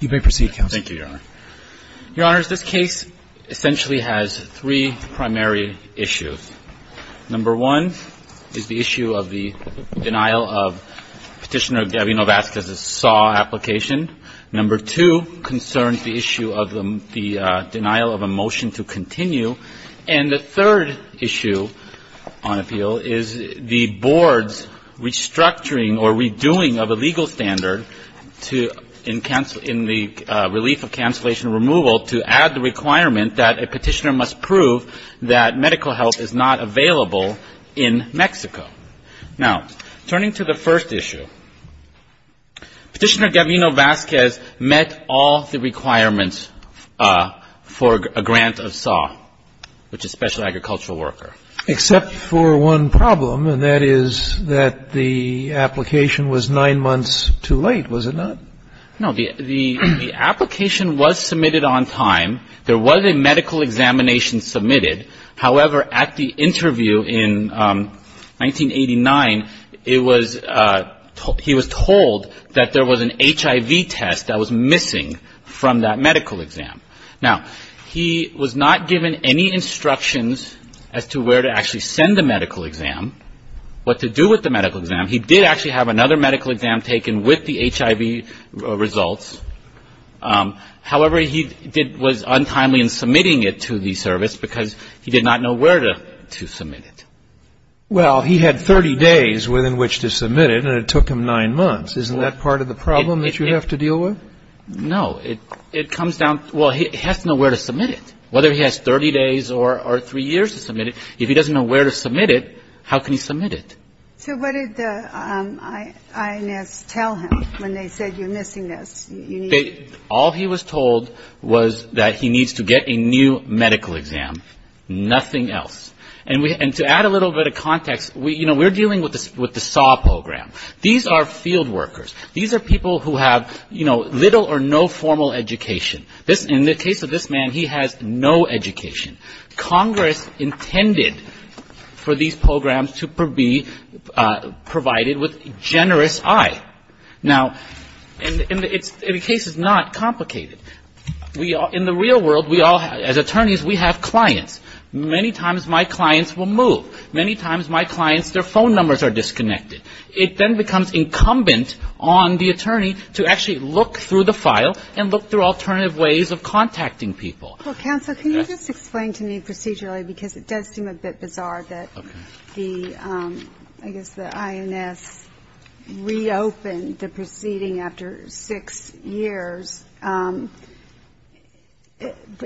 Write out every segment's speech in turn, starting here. You may proceed, Counsel. Thank you, Your Honor. Your Honors, this case essentially has three primary issues. Number one is the issue of the denial of Petitioner Gabby Novazquez's SAW application. Number two concerns the issue of the denial of a motion to continue. And the third issue on appeal is the Board's restructuring or redoing of a legal standard in the relief of cancellation removal to add the requirement that a Petitioner must prove that medical help is not available in Mexico. Now, turning to the first issue, Petitioner Gabby Novazquez met all the requirements for a grant of SAW, which is Special Agricultural Worker. Except for one problem, and that is that the application was nine months too late, was it not? No. The application was submitted on time. There was a medical examination submitted. However, at the interview in 1989, it was he was told that there was an HIV test that was missing from that medical exam. Now, he was not given any instructions as to where to actually send the medical exam, what to do with the medical exam. He did actually have another medical exam taken with the HIV results. However, he was untimely in submitting it to the service because he did not know where to submit it. Well, he had 30 days within which to submit it, and it took him nine months. Isn't that part of the problem that you have to deal with? No. It comes down to, well, he has to know where to submit it, whether he has 30 days or three years to submit it. If he doesn't know where to submit it, how can he submit it? So what did the INS tell him when they said you're missing this? All he was told was that he needs to get a new medical exam, nothing else. And to add a little bit of context, you know, we're dealing with the SAW program. These are field workers. These are people who have, you know, little or no formal education. In the case of this man, he has no education. Congress intended for these programs to be provided with generous eye. Now, and the case is not complicated. In the real world, we all, as attorneys, we have clients. Many times my clients will move. Many times my clients, their phone numbers are disconnected. It then becomes incumbent on the attorney to actually look through the file and look through alternative ways of contacting people. Counsel, can you just explain to me procedurally, because it does seem a bit bizarre that the, I guess the INS reopened the proceeding after six years.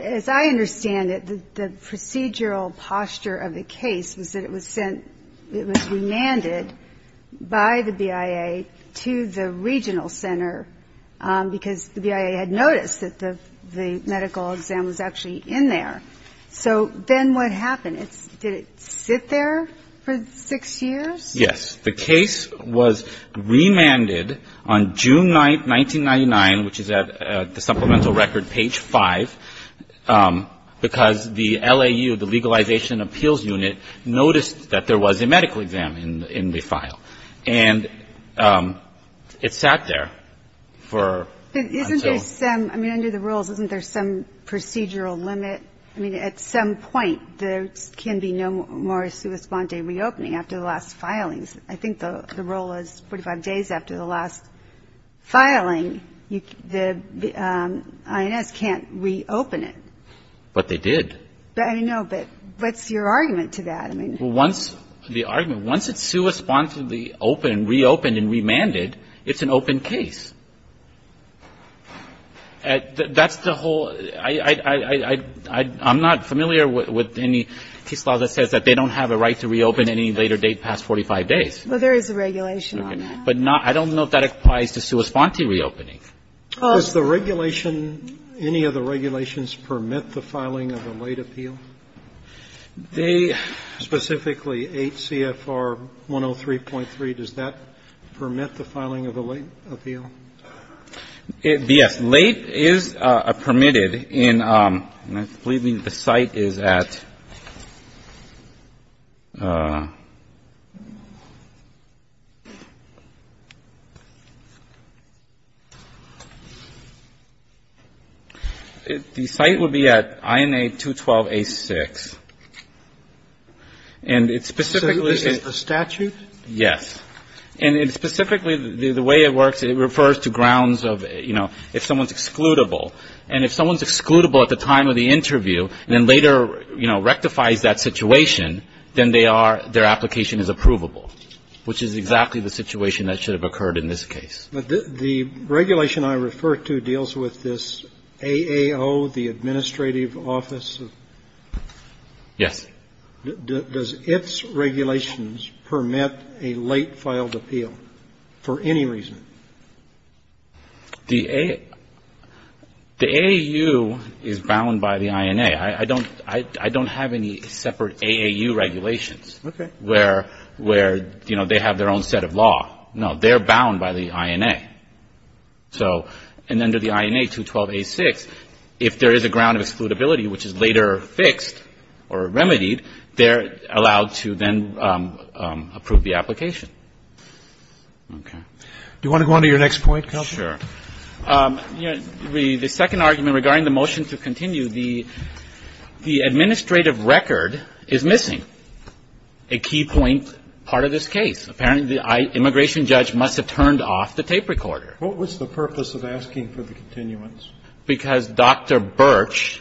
As I understand it, the procedural posture of the case was that it was sent, it was remanded by the BIA to the regional center because the BIA had noticed that the medical exam was actually in there. So then what happened? Did it sit there for six years? Yes. The case was remanded on June 9th, 1999, which is at the supplemental record page five, because the LAU, the Legalization Appeals Unit, noticed that there was a medical exam in the file. And it sat there for until ‑‑ But isn't there some, I mean, under the rules, isn't there some procedural limit? I mean, at some point, there can be no more sua sponde reopening after the last filings. I think the rule is 45 days after the last filing, the INS can't reopen it. But they did. I know. But what's your argument to that? I mean ‑‑ Well, once the argument, once it's sua sponde reopened and remanded, it's an open case. That's the whole ‑‑ I'm not familiar with any case law that says that they don't have a right to reopen any later date past 45 days. Well, there is a regulation on that. Okay. But not ‑‑ I don't know if that applies to sua sponde reopening. Does the regulation, any of the regulations permit the filing of a late appeal? They ‑‑ Specifically, 8 CFR 103.3, does that permit the filing of a late appeal? Yes. Late is permitted in ‑‑ believe me, the site is at ‑‑ the site would be at INA 212A6. And it specifically is ‑‑ So this is the statute? Yes. And it specifically, the way it works, it refers to grounds of, you know, if someone is excludable. And if someone is excludable at the time of the interview and then later, you know, rectifies that situation, then they are, their application is approvable, which is exactly the situation that should have occurred in this case. But the regulation I refer to deals with this AAO, the administrative office? Yes. Does its regulations permit a late filed appeal for any reason? The AAU is bound by the INA. I don't have any separate AAU regulations. Okay. Where, you know, they have their own set of law. No. They are bound by the INA. So, and under the INA 212A6, if there is a ground of excludability, which is later fixed or remedied, they are allowed to then approve the application. Okay. Do you want to go on to your next point, Counsel? Sure. The second argument regarding the motion to continue, the administrative record is missing, a key point part of this case. Apparently, the immigration judge must have turned off the tape recorder. What was the purpose of asking for the continuance? Because Dr. Birch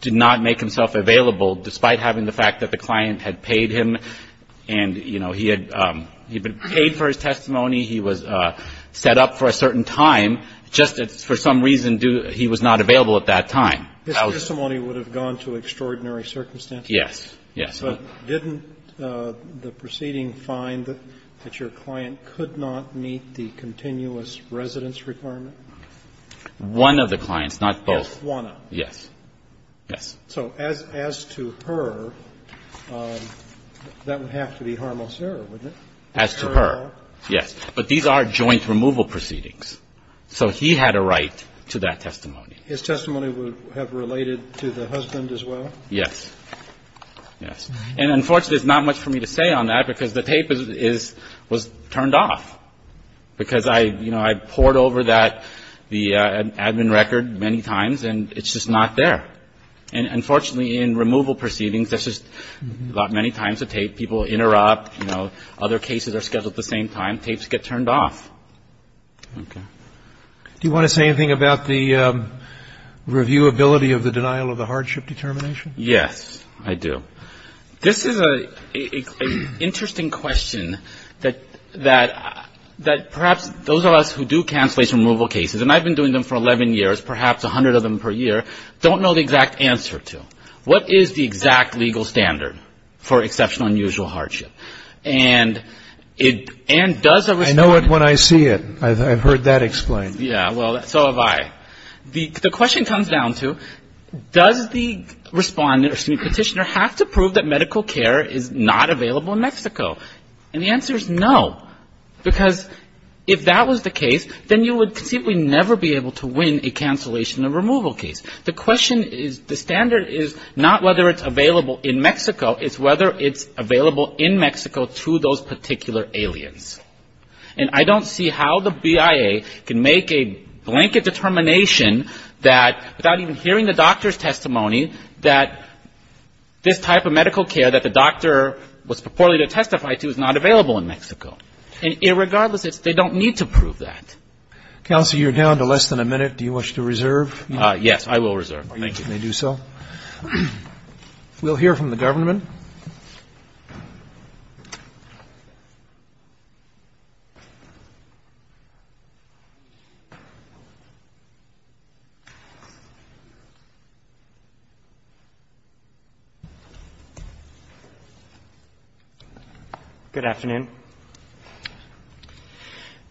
did not make himself available, despite having the fact that the client had paid him and, you know, he had been paid for his testimony. He was set up for a certain time. Just for some reason, he was not available at that time. His testimony would have gone to extraordinary circumstances. Yes. Yes. But didn't the proceeding find that your client could not meet the continuous residence requirement? One of the clients, not both. Just one of them. Yes. Yes. So as to her, that would have to be harmless error, wouldn't it? As to her. Yes. But these are joint removal proceedings. So he had a right to that testimony. His testimony would have related to the husband as well? Yes. Yes. And unfortunately, there's not much for me to say on that, because the tape is – was turned off. Because I, you know, I poured over that – the admin record many times, and it's just not there. And unfortunately, in removal proceedings, there's just not many times a tape. People interrupt. You know, other cases are scheduled at the same time. Tapes get turned off. Okay. Do you want to say anything about the reviewability of the denial of the hardship determination? Yes, I do. This is an interesting question that perhaps those of us who do cancellation removal cases, and I've been doing them for 11 years, perhaps 100 of them per year, don't know the exact answer to. What is the exact legal standard for exceptional unusual hardship? And does a – I know it when I see it. I've heard that explained. Yeah. Well, so have I. The question comes down to, does the respondent or petitioner have to prove that medical care is not available in Mexico? And the answer is no, because if that was the case, then you would conceivably never be able to win a cancellation or removal case. The question is – the standard is not whether it's available in Mexico. It's whether it's available in Mexico to those particular aliens. And I don't see how the BIA can make a blanket determination that, without even hearing the doctor's testimony, that this type of medical care that the doctor was purportedly to testify to is not available in Mexico. And regardless, they don't need to prove that. Counsel, you're down to less than a minute. Do you wish to reserve? Yes, I will reserve. Thank you. If you may do so. We'll hear from the government. Good afternoon. Good afternoon.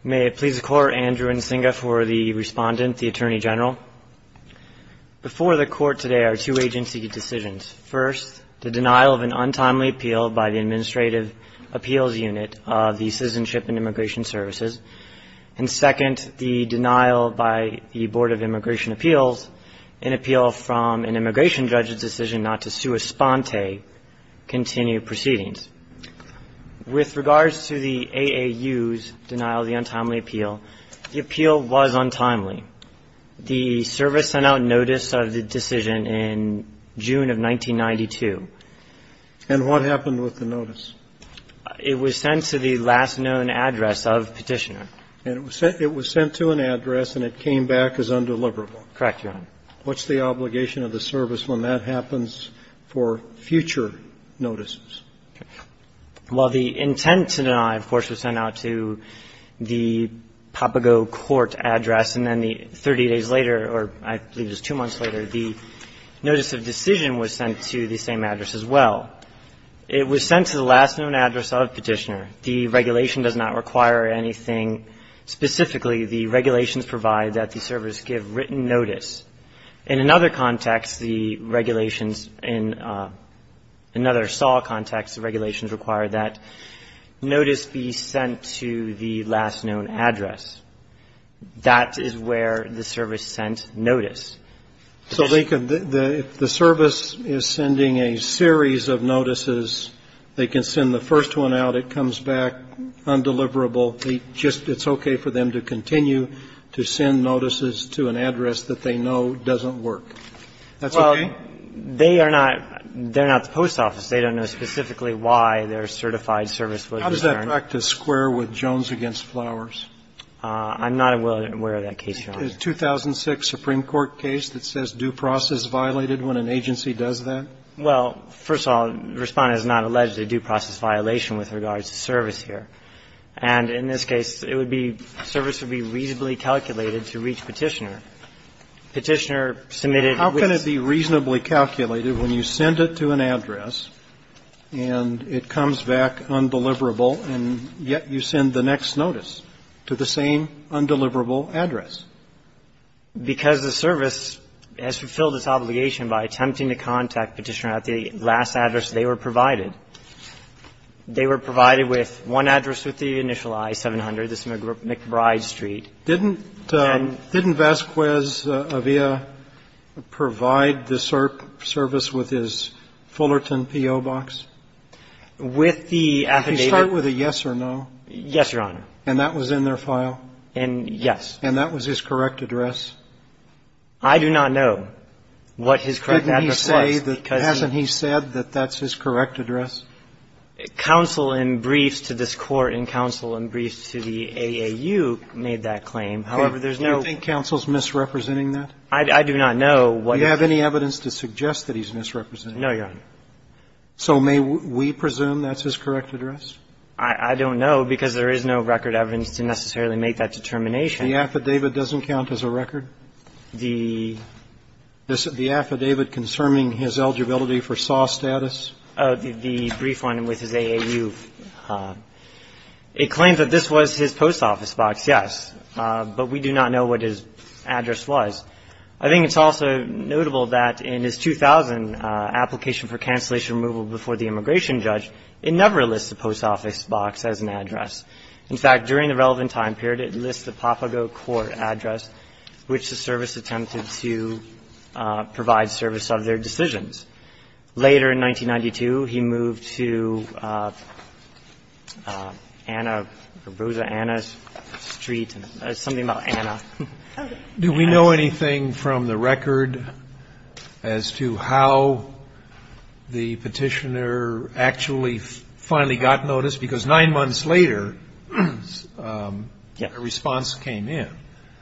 May it please the Court, Andrew Nsinga for the respondent, the Attorney General. Before the Court today are two agency decisions. First, the denial of an untimely appeal by the Administrative Appeals Unit of the Citizenship and Immigration Services. And second, the denial by the Board of Immigration Appeals, an appeal from an immigration judge's decision not to sua sponte continue proceedings. With regards to the AAU's denial of the untimely appeal, the appeal was untimely. The service sent out notice of the decision in June of 1992. And what happened with the notice? It was sent to the last known address of Petitioner. And it was sent to an address and it came back as undeliverable. Correct, Your Honor. What's the obligation of the service when that happens for future notices? Well, the intent to deny, of course, was sent out to the Papago Court address. And then 30 days later, or I believe it was two months later, the notice of decision was sent to the same address as well. It was sent to the last known address of Petitioner. The regulation does not require anything specifically. The regulations provide that the service give written notice. In another context, the regulations in another SAW context, the regulations require that notice be sent to the last known address. That is where the service sent notice. So they could, if the service is sending a series of notices, they can send the first one out, it comes back undeliverable, they just, it's okay for them to continue to send notices to an address that they know doesn't work. That's okay? Well, they are not the post office. They don't know specifically why their certified service was returned. How does that practice square with Jones v. Flowers? I'm not aware of that case, Your Honor. The 2006 Supreme Court case that says due process violated when an agency does that? Well, first of all, Respondent has not alleged a due process violation with regards to service here. And in this case, it would be, service would be reasonably calculated to reach Petitioner. Petitioner submitted a written notice. How can it be reasonably calculated when you send it to an address and it comes back undeliverable, and yet you send the next notice to the same undeliverable address? Because the service has fulfilled its obligation by attempting to contact Petitioner at the last address they were provided. They were provided with one address with the initial I-700, McBride Street. Didn't Vasquez Avila provide the service with his Fullerton P.O. box? With the affidavit. Did he start with a yes or no? Yes, Your Honor. And that was in their file? Yes. And that was his correct address? I do not know what his correct address was. Hasn't he said that that's his correct address? Counsel in briefs to this Court and counsel in briefs to the AAU made that claim. However, there's no ---- Do you think counsel's misrepresenting that? I do not know what ---- Do you have any evidence to suggest that he's misrepresenting it? No, Your Honor. So may we presume that's his correct address? I don't know, because there is no record evidence to necessarily make that determination. The affidavit doesn't count as a record? The ---- The affidavit concerning his eligibility for SAW status? The brief one with his AAU. It claims that this was his post office box, yes. But we do not know what his address was. I think it's also notable that in his 2000 application for cancellation removal before the immigration judge, it never lists the post office box as an address. In fact, during the relevant time period, it lists the Papago Court address, which was a service attempted to provide service of their decisions. Later in 1992, he moved to Anna or Rosa Anna Street, something about Anna. Do we know anything from the record as to how the Petitioner actually finally got notice, because nine months later, a response came in?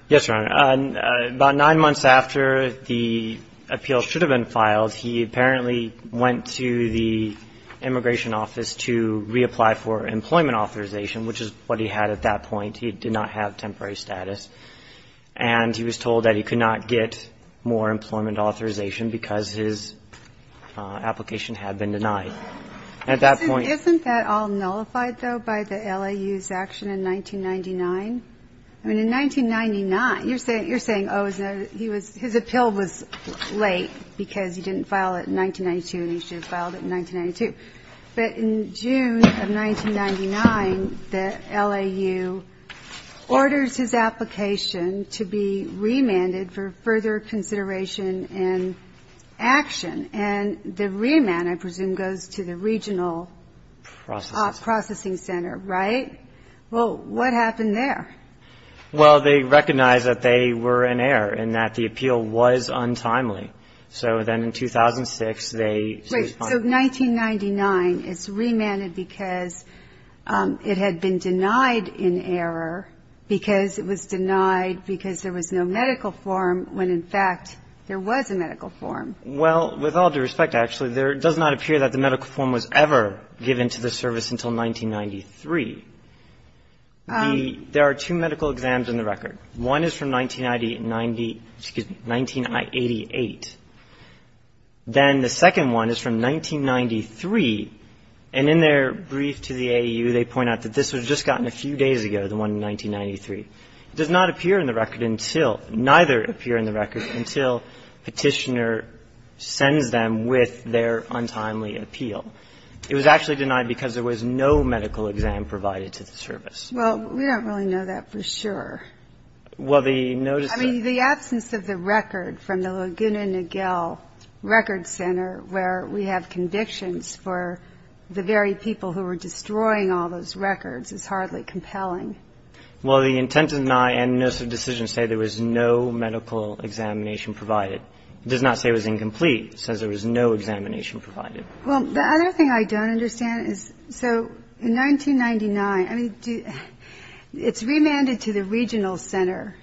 Yes, Your Honor. About nine months after the appeal should have been filed, he apparently went to the immigration office to reapply for employment authorization, which is what he had at that point. He did not have temporary status. And he was told that he could not get more employment authorization because his application had been denied. At that point ---- Isn't that all nullified, though, by the LAU's action in 1999? I mean, in 1999, you're saying, oh, he was ---- his appeal was late because he didn't file it in 1992, and he should have filed it in 1992. But in June of 1999, the LAU orders his application to be remanded for further consideration and action. And the remand, I presume, goes to the regional processing center, right? Right. Well, what happened there? Well, they recognized that they were in error and that the appeal was untimely. So then in 2006, they ---- Right. So 1999, it's remanded because it had been denied in error because it was denied because there was no medical form when, in fact, there was a medical form. Well, with all due respect, actually, there does not appear that the medical form was ever given to the service until 1993. The ---- There are two medical exams in the record. One is from 1990 and 90 ---- excuse me, 1988. Then the second one is from 1993, and in their brief to the AAU, they point out that this was just gotten a few days ago, the one in 1993. It does not appear in the record until ---- neither appear in the record until Petitioner sends them with their untimely appeal. It was actually denied because there was no medical exam provided to the service. Well, we don't really know that for sure. Well, the notice of ---- I mean, the absence of the record from the Laguna Niguel Record Center where we have convictions for the very people who were destroying all those records is hardly compelling. Well, the intent deny and notice of decision say there was no medical examination provided. It does not say it was incomplete, says there was no examination provided. Well, the other thing I don't understand is, so in 1999, I mean, do you ---- it's remanded to the regional center,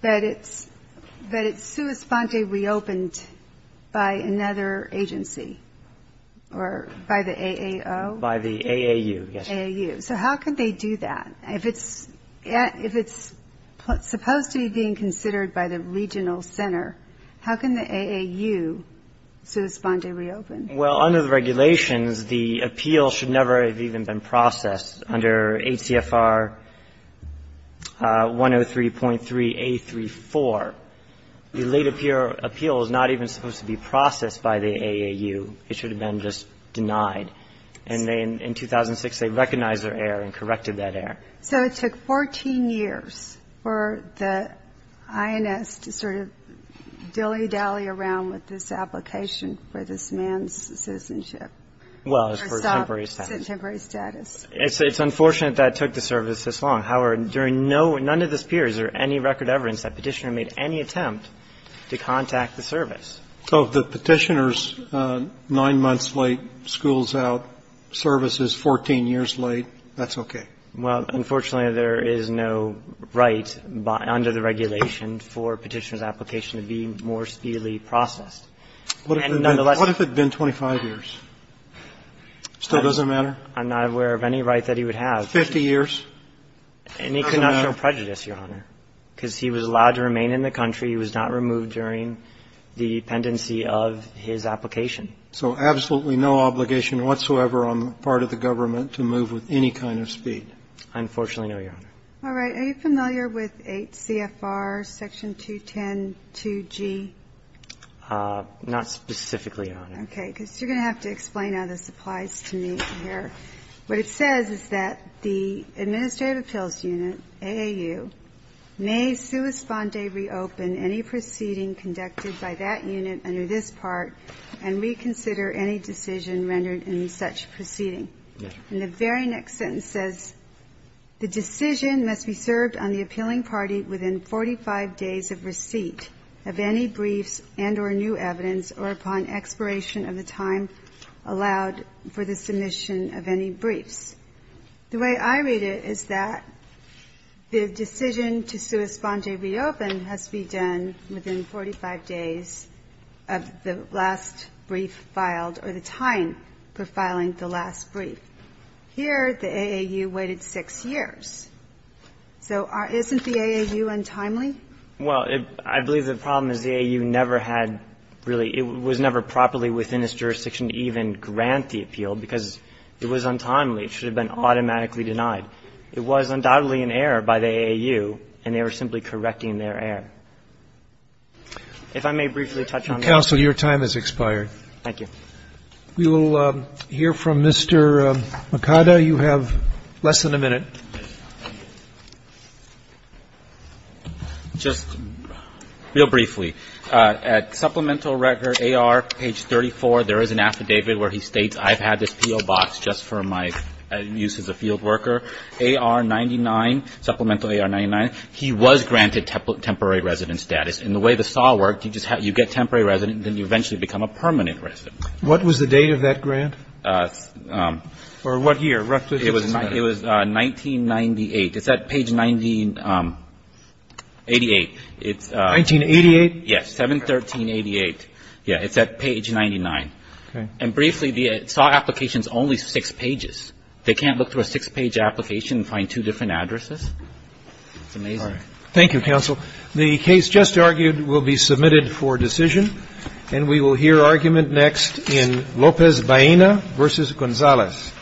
but it's ---- but it's sua sponte reopened by another agency or by the AAO? By the AAU, yes. AAU. So how could they do that? If it's supposed to be being considered by the regional center, how can the AAU sua sponte reopen? Well, under the regulations, the appeal should never have even been processed under ACFR 103.3A34. The late appeal is not even supposed to be processed by the AAU. It should have been just denied. And in 2006, they recognized their error and corrected that error. So it took 14 years for the INS to sort of dilly-dally around with this application for this man's citizenship? Well, it's for temporary status. Temporary status. It's unfortunate that it took the service this long. However, during none of this period is there any record evidence that Petitioner made any attempt to contact the service. So if the Petitioner's nine months late, school's out, service is 14 years late, that's okay? Well, unfortunately, there is no right under the regulation for Petitioner's application to be more speedily processed. And nonetheless What if it had been 25 years? Still doesn't matter? I'm not aware of any right that he would have. 50 years? And he could not show prejudice, Your Honor, because he was allowed to remain in the dependency of his application. So absolutely no obligation whatsoever on the part of the government to move with any kind of speed? I unfortunately know, Your Honor. All right. Are you familiar with 8 CFR Section 2102G? Not specifically, Your Honor. Okay. Because you're going to have to explain how this applies to me here. What it says is that the Administrative Appeals Unit, AAU, may sua sponde reopen any proceeding conducted by that unit under this part and reconsider any decision rendered in such proceeding. And the very next sentence says, The decision must be served on the appealing party within 45 days of receipt of any briefs and or new evidence or upon expiration of the time allowed for the submission of any briefs. The way I read it is that the decision to sua sponde reopen has to be done within 45 days of the last brief filed or the time for filing the last brief. Here, the AAU waited 6 years. So isn't the AAU untimely? Well, I believe the problem is the AAU never had really ñ it was never properly within its jurisdiction to even grant the appeal because it was untimely. It should have been automatically denied. It was undoubtedly an error by the AAU, and they were simply correcting their error. If I may briefly touch on that. Counsel, your time has expired. Thank you. We will hear from Mr. Mikada. You have less than a minute. Just real briefly, at supplemental record AR page 34, there is an affidavit where he states I've had this PO box just for my use as a field worker. AR-99, supplemental AR-99, he was granted temporary resident status. And the way the SAW worked, you get temporary resident and then you eventually become a permanent resident. What was the date of that grant? Or what year? It was 1998. It's at page 1988. 1988? Yes. 7-13-88. Yes. It's at page 99. Okay. And briefly, the SAW application is only six pages. They can't look through a six-page application and find two different addresses? It's amazing. All right. Thank you, counsel. The case just argued will be submitted for decision. And we will hear argument next in Lopez-Bahena v. Gonzalez.